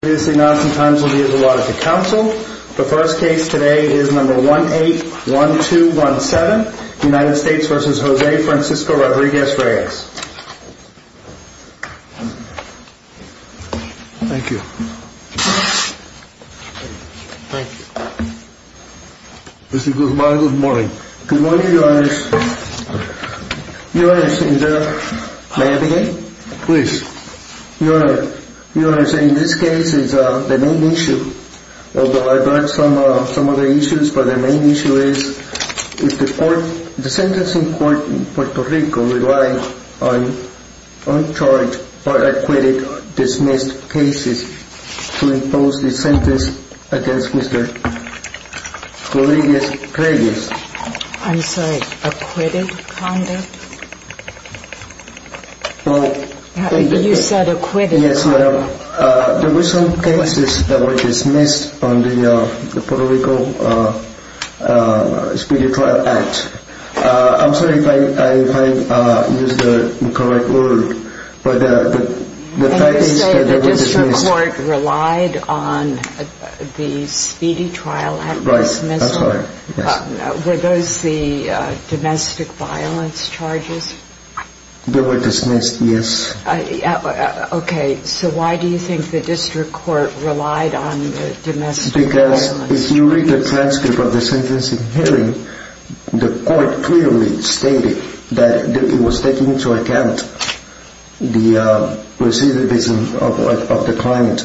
Good morning, your honors. Your honor, may I begin? You honor, your honor, in this case, this is the main issue, although I brought some other issues, but the main issue is the sentencing court in Puerto Rico relied on uncharged or acquitted dismissed cases to impose the sentence against Mr. Rodriguez-Reyes. I'm sorry, acquitted conduct? You said acquitted conduct. Yes, ma'am. There were some cases that were dismissed on the Puerto Rico Speedy Trial Act. I'm sorry if I used the incorrect word, but the fact is that they were dismissed. The court relied on the Speedy Trial Act dismissal? Were those the domestic violence charges? They were dismissed, yes. Okay, so why do you think the district court relied on the domestic violence charges? Because if you read the transcript of the sentencing hearing, the court clearly stated that it was taking into account the recidivism of the client.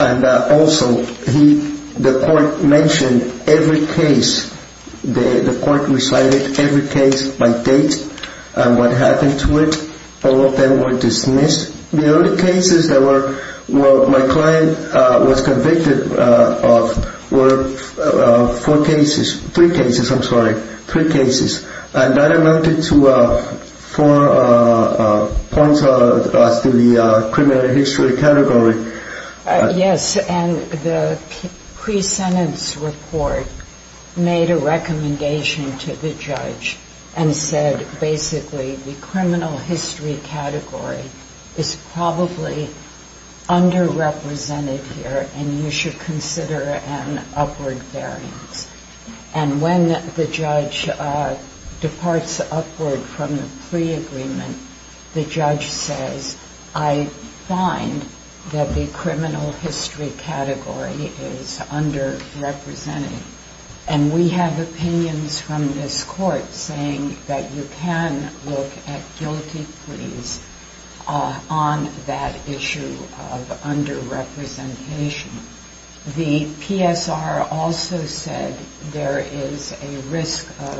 And also, the court mentioned every case, the court recited every case by date and what happened to it. All of them were dismissed. The only cases that my client was convicted of were four cases, three cases, I'm sorry, three cases, and that amounted to four points as to the criminal history category. Yes, and the pre-sentence report made a recommendation to the judge and said basically the criminal history category is probably underrepresented here and you should consider an upward variance. And when the judge departs upward from the pre-agreement, the judge says, I find that the criminal history category is underrepresented. And we have opinions from this court saying that you can look at guilty pleas on that issue of underrepresentation. The PSR also said there is a risk of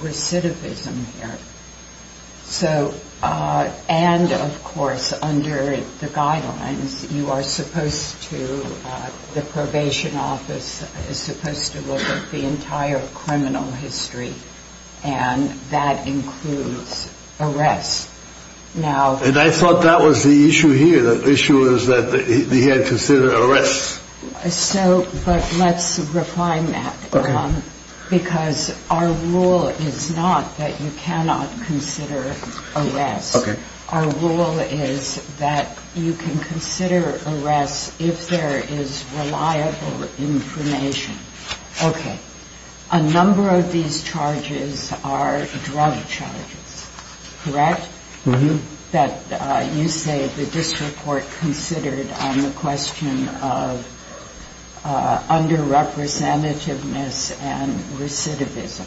recidivism here. So, and of course, under the guidelines, you are supposed to, the probation office is supposed to look at the entire criminal history and that includes arrests. And I thought that was the issue here. The issue was that he had considered arrests. So, but let's refine that because our rule is not that you cannot consider arrests. Our rule is that you can consider arrests if there is reliable information. Okay. A number of these charges are drug charges, correct? Mm-hmm. That you say that this report considered on the question of underrepresentativeness and recidivism.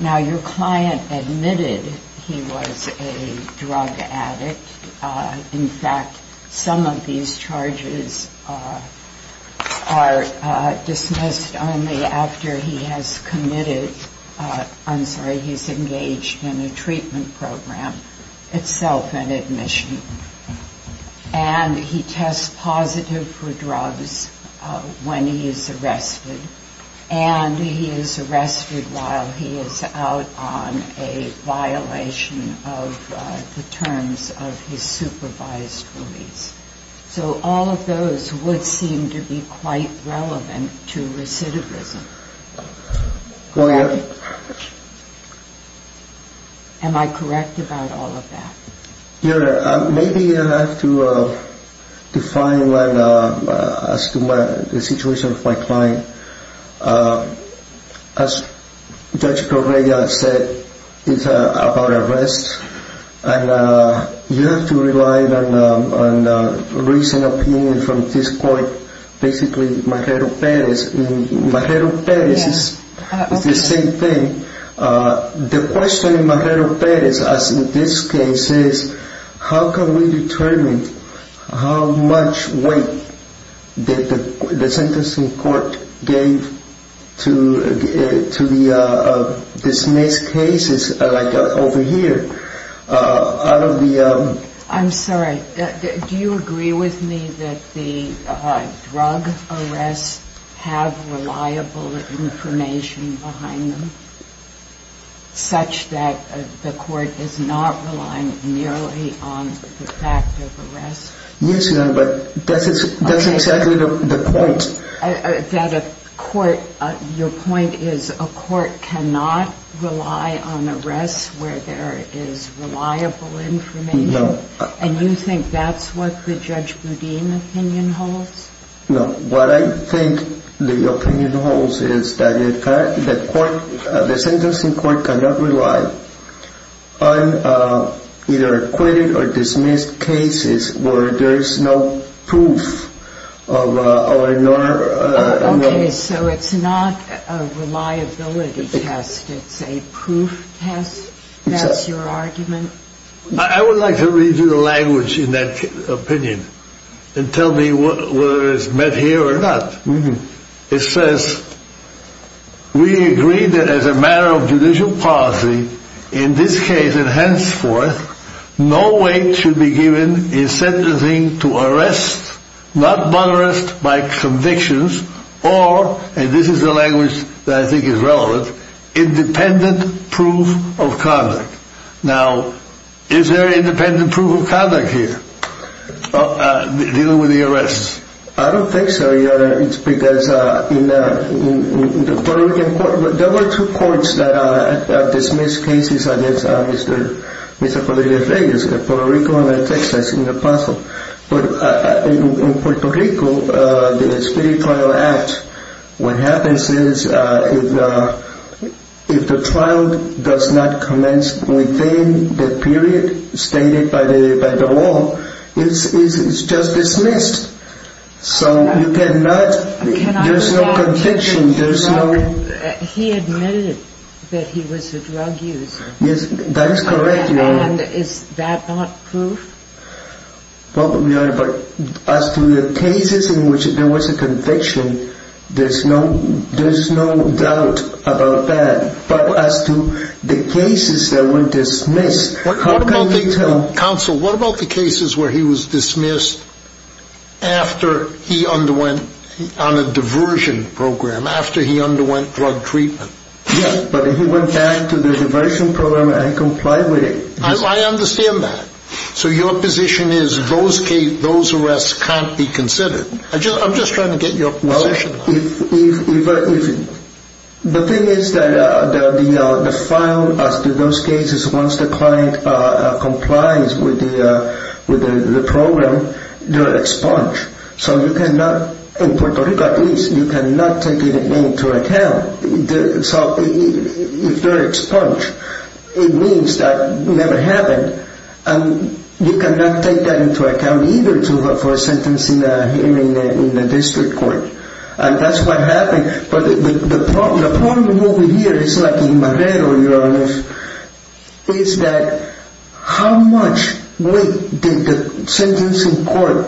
Now, your client admitted he was a drug addict. In fact, some of these charges are dismissed only after he has committed, I'm sorry, he's engaged in a treatment program itself, an admission. And he tests positive for drugs when he is arrested. And he is arrested while he is out on a violation of the terms of his supervised release. So all of those would seem to be quite relevant to recidivism. Go ahead. Am I correct about all of that? Your Honor, maybe I have to define as to the situation of my client. As Judge Correa said, it's about arrests. And you have to rely on a recent opinion from this court, basically Marrero-Perez. Marrero-Perez is the same thing. The question in Marrero-Perez, as in this case, is how can we determine how much weight the sentencing court gave to the dismissed cases like over here? I'm sorry. Do you agree with me that the drug arrests have reliable information behind them such that the court is not relying merely on the fact of arrests? Yes, Your Honor, but that's exactly the point. Your point is a court cannot rely on arrests where there is reliable information? No. And you think that's what the Judge Boudin's opinion holds? No. What I think the opinion holds is that the sentencing court cannot rely on either acquitted or dismissed cases where there is no proof. Okay, so it's not a reliability test. It's a proof test. That's your argument? I would like to read you the language in that opinion and tell me whether it's met here or not. It says, we agree that as a matter of judicial policy, in this case and henceforth, no weight should be given in sentencing to arrests, not but arrests by convictions, or, and this is the language that I think is relevant, independent proof of conduct. Now, is there independent proof of conduct here, dealing with the arrests? I don't think so, Your Honor, it's because in the Puerto Rican court, there were two courts that dismissed cases against Mr. Padrillo-Reyes, Puerto Rico and Texas, in the past. In Puerto Rico, the Spirit Trial Act, what happens is, if the trial does not commence within the period stated by the law, it's just dismissed. So you cannot, there's no conviction. He admitted that he was a drug user. Yes, that is correct, Your Honor. And is that not proof? Well, Your Honor, but as to the cases in which there was a conviction, there's no doubt about that. But as to the cases that were dismissed, how can you tell? Counsel, what about the cases where he was dismissed after he underwent, on a diversion program, after he underwent drug treatment? Yes, but he went back to the diversion program and complied with it. I understand that. So your position is those arrests can't be considered? I'm just trying to get your position. Well, the thing is that the file as to those cases, once the client complies with the program, they're expunged. So you cannot, in Puerto Rico at least, you cannot take it into account. If they're expunged, it means that it never happened. And you cannot take that into account either for a sentence in the district court. And that's what happened. But the problem over here is like in Marrero, Your Honor, is that how much weight did the sentencing court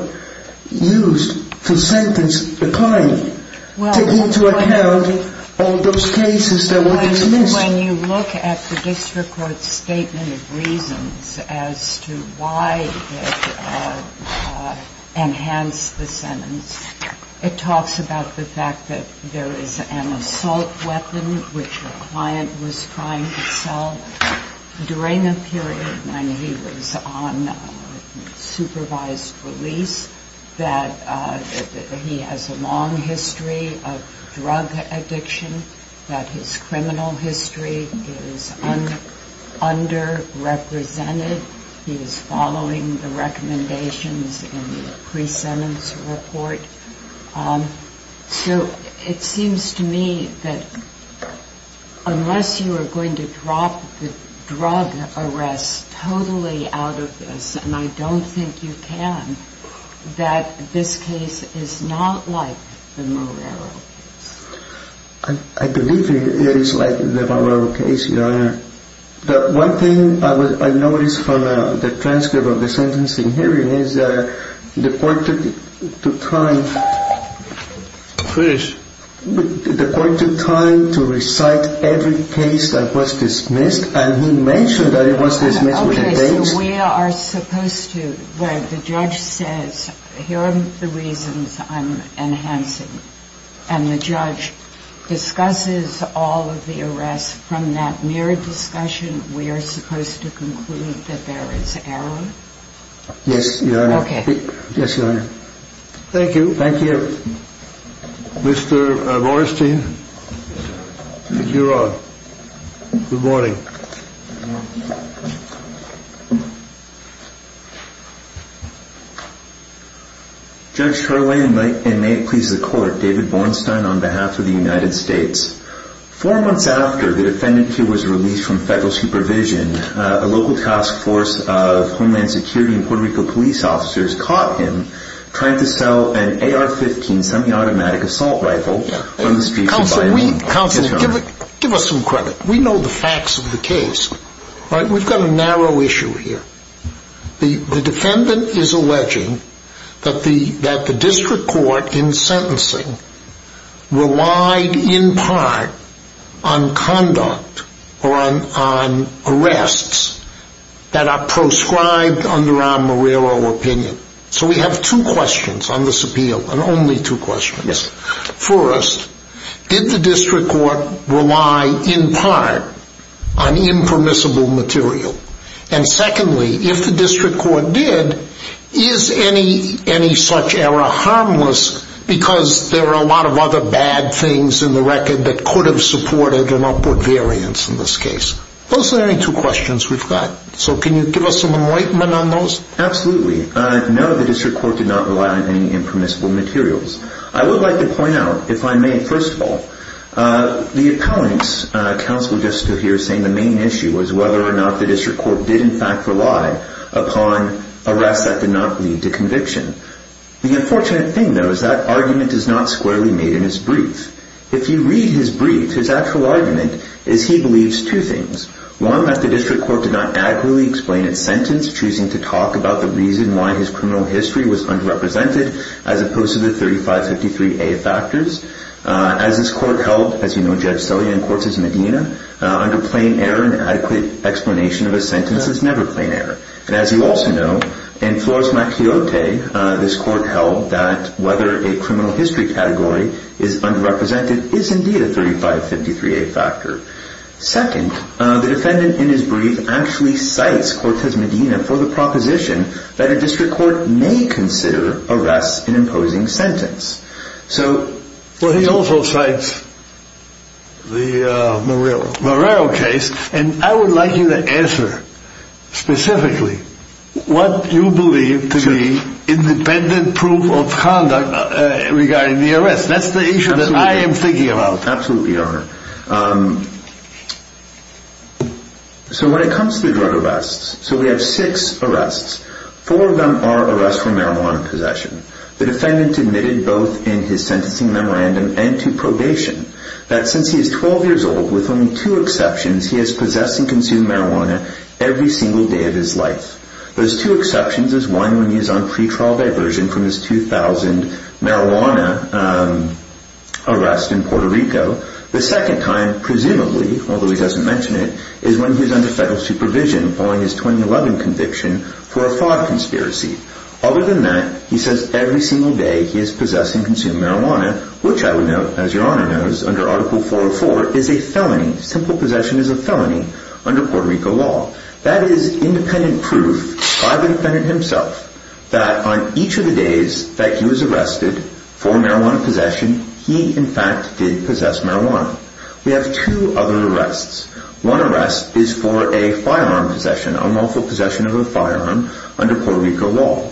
use to sentence the client? Well, when you look at the district court's statement of reasons as to why it enhanced the sentence, it talks about the fact that there is an assault weapon which the client was trying to sell during the period when he was on supervised release, that he has a long history of drug addiction, that his criminal history is underrepresented. He is following the recommendations in the pre-sentence report. So it seems to me that unless you are going to drop the drug arrest totally out of this, and I don't think you can, that this case is not like the Marrero case. I believe it is like the Marrero case, Your Honor. The one thing I noticed from the transcript of the sentencing hearing is that the court took time to recite every case that was dismissed, and he mentioned that it was dismissed with the case. So we are supposed to, where the judge says, here are the reasons I'm enhancing, and the judge discusses all of the arrests from that mere discussion, we are supposed to conclude that there is error? Yes, Your Honor. Okay. Yes, Your Honor. Thank you. Thank you. All right. Mr. Rorstein, you're on. Good morning. Judge Charlayne, and may it please the court, David Bornstein on behalf of the United States. Four months after the defendant here was released from federal supervision, a local task force of Homeland Security and Puerto Rico police officers caught him trying to sell an AR-15, semi-automatic assault rifle, on the streets of Miami. Counsel, give us some credit. We know the facts of the case. We've got a narrow issue here. The defendant is alleging that the district court in sentencing relied in part on conduct or on arrests that are proscribed under our Morello opinion. So we have two questions on this appeal, and only two questions. Yes. First, did the district court rely in part on impermissible material? And secondly, if the district court did, is any such error harmless because there are a lot of other bad things in the record that could have supported an upward variance in this case? Those are the only two questions we've got. So can you give us some enlightenment on those? Absolutely. No, the district court did not rely on any impermissible materials. I would like to point out, if I may, first of all, the appellant's counsel just stood here saying the main issue was whether or not the district court did in fact rely upon arrests that did not lead to conviction. The unfortunate thing, though, is that argument is not squarely made in his brief. If you read his brief, his actual argument is he believes two things. One, that the district court did not adequately explain its sentence, choosing to talk about the reason why his criminal history was underrepresented, as opposed to the 3553A factors. As this court held, as you know, Judge Celia in Cortez Medina, under plain error, an adequate explanation of a sentence is never plain error. And as you also know, in Flores Macriote, this court held that whether a criminal history category is underrepresented is indeed a 3553A factor. Second, the defendant in his brief actually cites Cortez Medina for the proposition that a district court may consider arrests an imposing sentence. Well, he also cites the Marrero case. And I would like you to answer specifically what you believe to be independent proof of conduct regarding the arrests. That's the issue that I am thinking about. Absolutely, Your Honor. So when it comes to drug arrests, so we have six arrests. Four of them are arrests for marijuana possession. The defendant admitted both in his sentencing memorandum and to probation that since he is 12 years old, with only two exceptions, he has possessed and consumed marijuana every single day of his life. Those two exceptions is one when he is on pretrial diversion from his 2000 marijuana arrest in Puerto Rico. The second time, presumably, although he doesn't mention it, is when he is under federal supervision following his 2011 conviction for a fraud conspiracy. Other than that, he says every single day he has possessed and consumed marijuana, which I would note, as Your Honor knows, under Article 404 is a felony. Simple possession is a felony under Puerto Rico law. That is independent proof by the defendant himself that on each of the days that he was arrested for marijuana possession, he in fact did possess marijuana. We have two other arrests. One arrest is for a firearm possession, unlawful possession of a firearm under Puerto Rico law.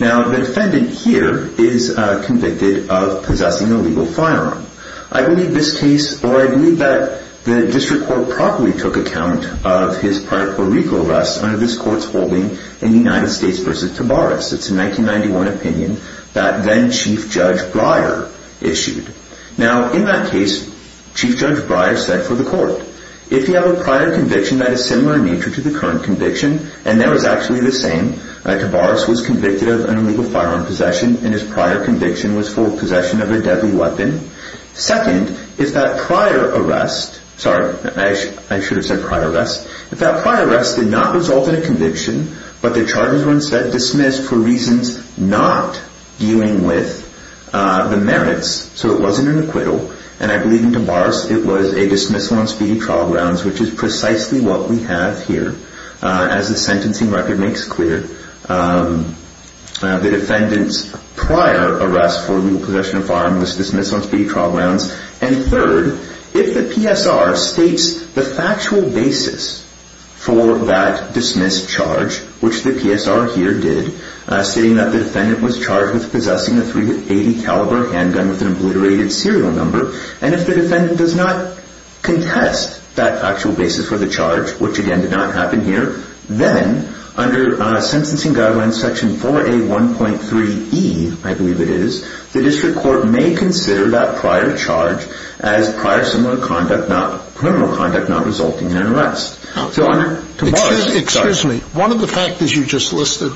Now, the defendant here is convicted of possessing a legal firearm. I believe this case, or I believe that the district court properly took account of his prior Puerto Rico arrests under this court's holding in the United States v. Tavares. It's a 1991 opinion that then-Chief Judge Breyer issued. In that case, Chief Judge Breyer said for the court, if you have a prior conviction that is similar in nature to the current conviction and there is actually the same, Tavares was convicted of an illegal firearm possession and his prior conviction was for possession of a deadly weapon. Second, if that prior arrest, sorry, I should have said prior arrest, if that prior arrest did not result in a conviction, but the charges were instead dismissed for reasons not dealing with the merits, so it wasn't an acquittal, and I believe in Tavares it was a dismissal on speedy trial grounds, which is precisely what we have here as the sentencing record makes clear. The defendant's prior arrest for legal possession of firearms was dismissed on speedy trial grounds. And third, if the PSR states the factual basis for that dismissed charge, which the PSR here did, stating that the defendant was charged with possessing a .380 caliber handgun with an obliterated serial number, which again did not happen here, then under sentencing guidelines section 4A1.3E, I believe it is, the district court may consider that prior charge as prior similar conduct, not criminal conduct, not resulting in an arrest. So under Tavares... Excuse me. One of the factors you just listed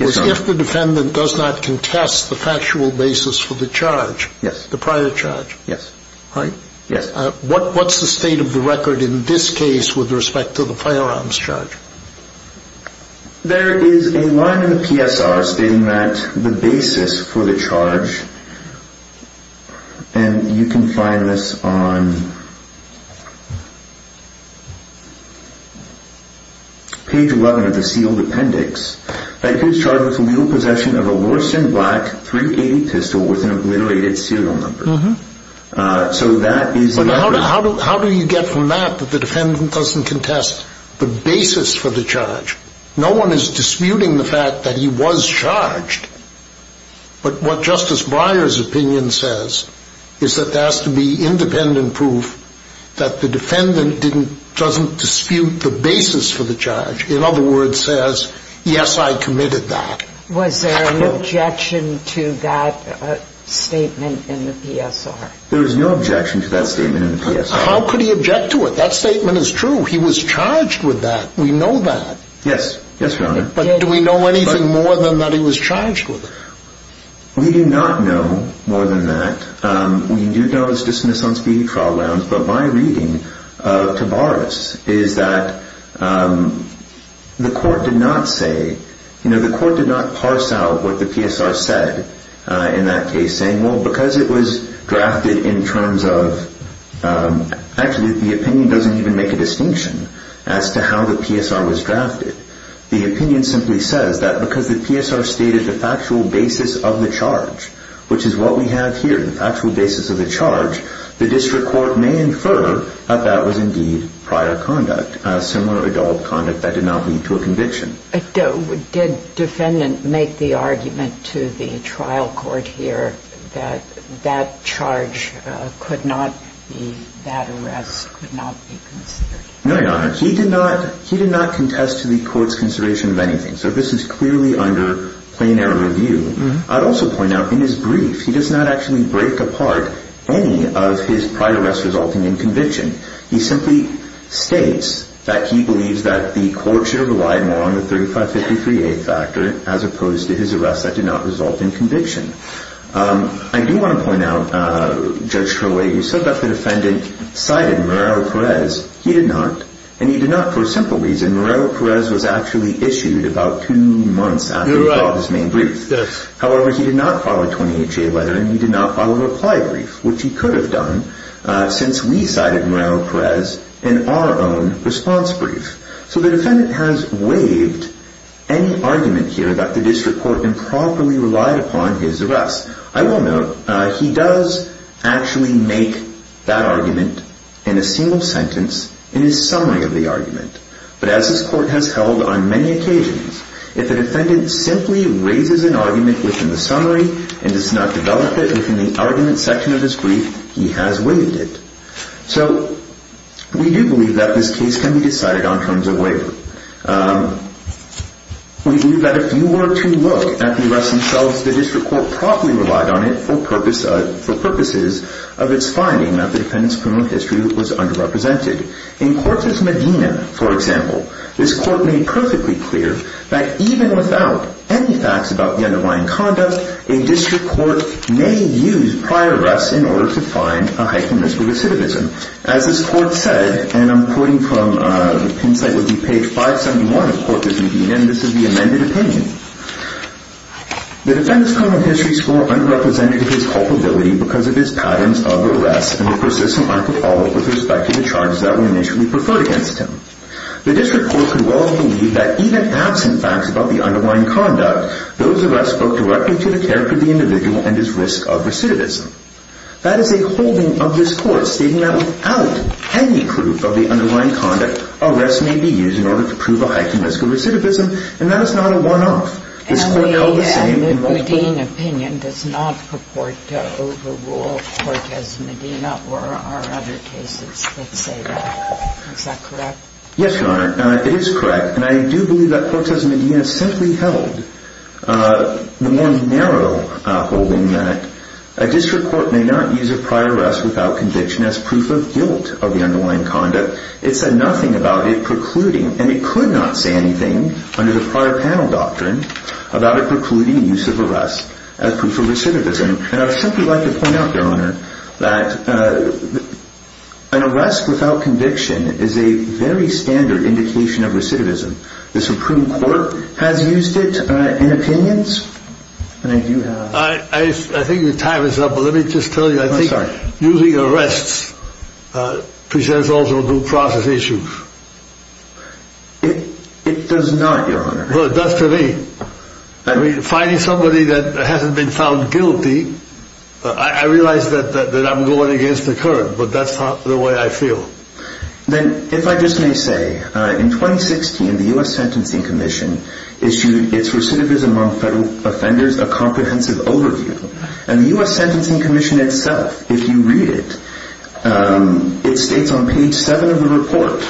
was if the defendant does not contest the factual basis for the charge, the prior charge, right? Yes. What's the state of the record in this case with respect to the firearms charge? There is a line in the PSR stating that the basis for the charge, and you can find this on page 11 of the sealed appendix, that he was charged with legal possession of a Loriston Black .380 pistol with an obliterated serial number. So that is... But how do you get from that that the defendant doesn't contest the basis for the charge? No one is disputing the fact that he was charged, but what Justice Breyer's opinion says is that there has to be independent proof that the defendant doesn't dispute the basis for the charge. In other words, says, yes, I committed that. Was there an objection to that statement in the PSR? There was no objection to that statement in the PSR. How could he object to it? That statement is true. He was charged with that. We know that. Yes. Yes, Your Honor. But do we know anything more than that he was charged with it? We do not know more than that. We do know it's dismissed on speedy trial grounds, but my reading of Tavares is that the court did not say... You know, the court did not parse out what the PSR said in that case, saying, well, because it was drafted in terms of... Actually, the opinion doesn't even make a distinction as to how the PSR was drafted. The opinion simply says that because the PSR stated the factual basis of the charge, which is what we have here, the factual basis of the charge, the district court may infer that that was indeed prior conduct, similar adult conduct that did not lead to a conviction. Did defendant make the argument to the trial court here that that charge could not be, that arrest could not be considered? No, Your Honor. He did not contest to the court's consideration of anything, so this is clearly under plenary review. I'd also point out in his brief, he does not actually break apart any of his prior arrests resulting in conviction. He simply states that he believes that the court should have relied more on the 3553A factor as opposed to his arrests that did not result in conviction. I do want to point out, Judge Crowley, you said that the defendant cited Muriel Perez. He did not, and he did not for a simple reason. Muriel Perez was actually issued about two months after he filed his main brief. However, he did not file a 20HA letter, and he did not file a reply brief, which he could have done since we cited Muriel Perez in our own response brief. So the defendant has waived any argument here that the district court improperly relied upon his arrests. I will note he does actually make that argument in a single sentence in his summary of the argument, but as this court has held on many occasions, if the defendant simply raises an argument within the summary and does not develop it within the argument section of his brief, he has waived it. So we do believe that this case can be decided on terms of waiver. We believe that if you were to look at the arrests themselves, the district court properly relied on it for purposes of its finding that the defendant's criminal history was underrepresented. In Cortez Medina, for example, this court made perfectly clear that even without any facts about the underlying conduct, a district court may use prior arrests in order to find a heightened risk of recidivism. As this court said, and I'm quoting from the page 571 of Cortez Medina, and this is the amended opinion, the defendant's criminal history score underrepresented his culpability because of his patterns of arrests and the persistent lack of follow-up with respect to the charges that were initially preferred against him. The district court could well believe that even absent facts about the underlying conduct, those arrests spoke directly to the character of the individual and his risk of recidivism. That is a holding of this court stating that without any proof of the underlying conduct, arrests may be used in order to prove a heightened risk of recidivism, and that is not a one-off. This court held the same. And the Medina opinion does not purport to overrule Cortez Medina or our other cases that say that. Is that correct? Yes, Your Honor, it is correct. And I do believe that Cortez Medina simply held the more narrow holding that a district court may not use a prior arrest without conviction as proof of guilt of the underlying conduct. It said nothing about it precluding, and it could not say anything under the prior panel doctrine about it precluding the use of arrests as proof of recidivism. And I would simply like to point out, Your Honor, that an arrest without conviction is a very standard indication of recidivism. The Supreme Court has used it in opinions, and I do have... I think your time is up, but let me just tell you, I think using arrests presents also due process issues. It does not, Your Honor. Well, it does to me. I mean, finding somebody that hasn't been found guilty, I realize that I'm going against the current, but that's not the way I feel. Then if I just may say, in 2016, the U.S. Sentencing Commission issued its recidivism among federal offenders, a comprehensive overview. And the U.S. Sentencing Commission itself, if you read it, it states on page 7 of the report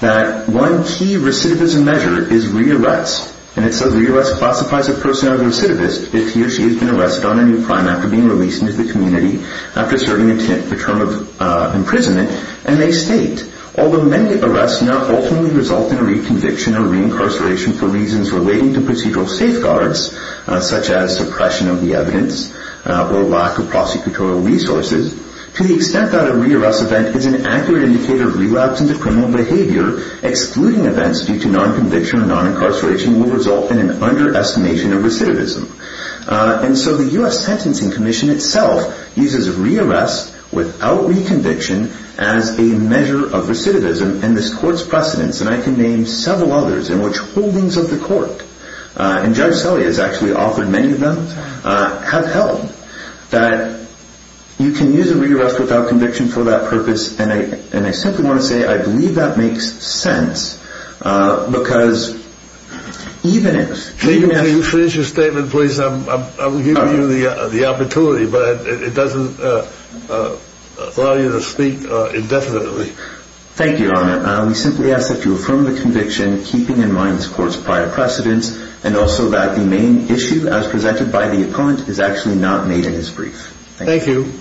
that one key recidivism measure is re-arrest. And it says re-arrest classifies a person as a recidivist if he or she has been arrested on a new crime after being released into the community, after serving a term of imprisonment. And they state, although many arrests now ultimately result in a reconviction or re-incarceration for reasons relating to procedural safeguards, such as suppression of the evidence or lack of prosecutorial resources, to the extent that a re-arrest event is an accurate indicator of relapse into criminal behavior, excluding events due to non-conviction or non-incarceration will result in an underestimation of recidivism. And so the U.S. Sentencing Commission itself uses re-arrest without reconviction as a measure of recidivism in this court's precedence. And I can name several others in which holdings of the court, and Judge Selle has actually offered many of them, have held that you can use a re-arrest without conviction for that purpose. And I simply want to say I believe that makes sense because even if... If you finish your statement, please, I will give you the opportunity, but it doesn't allow you to speak indefinitely. Thank you, Your Honor. We simply ask that you affirm the conviction, keeping in mind this court's prior precedence, and also that the main issue, as presented by the opponent, is actually not made in his brief. Thank you.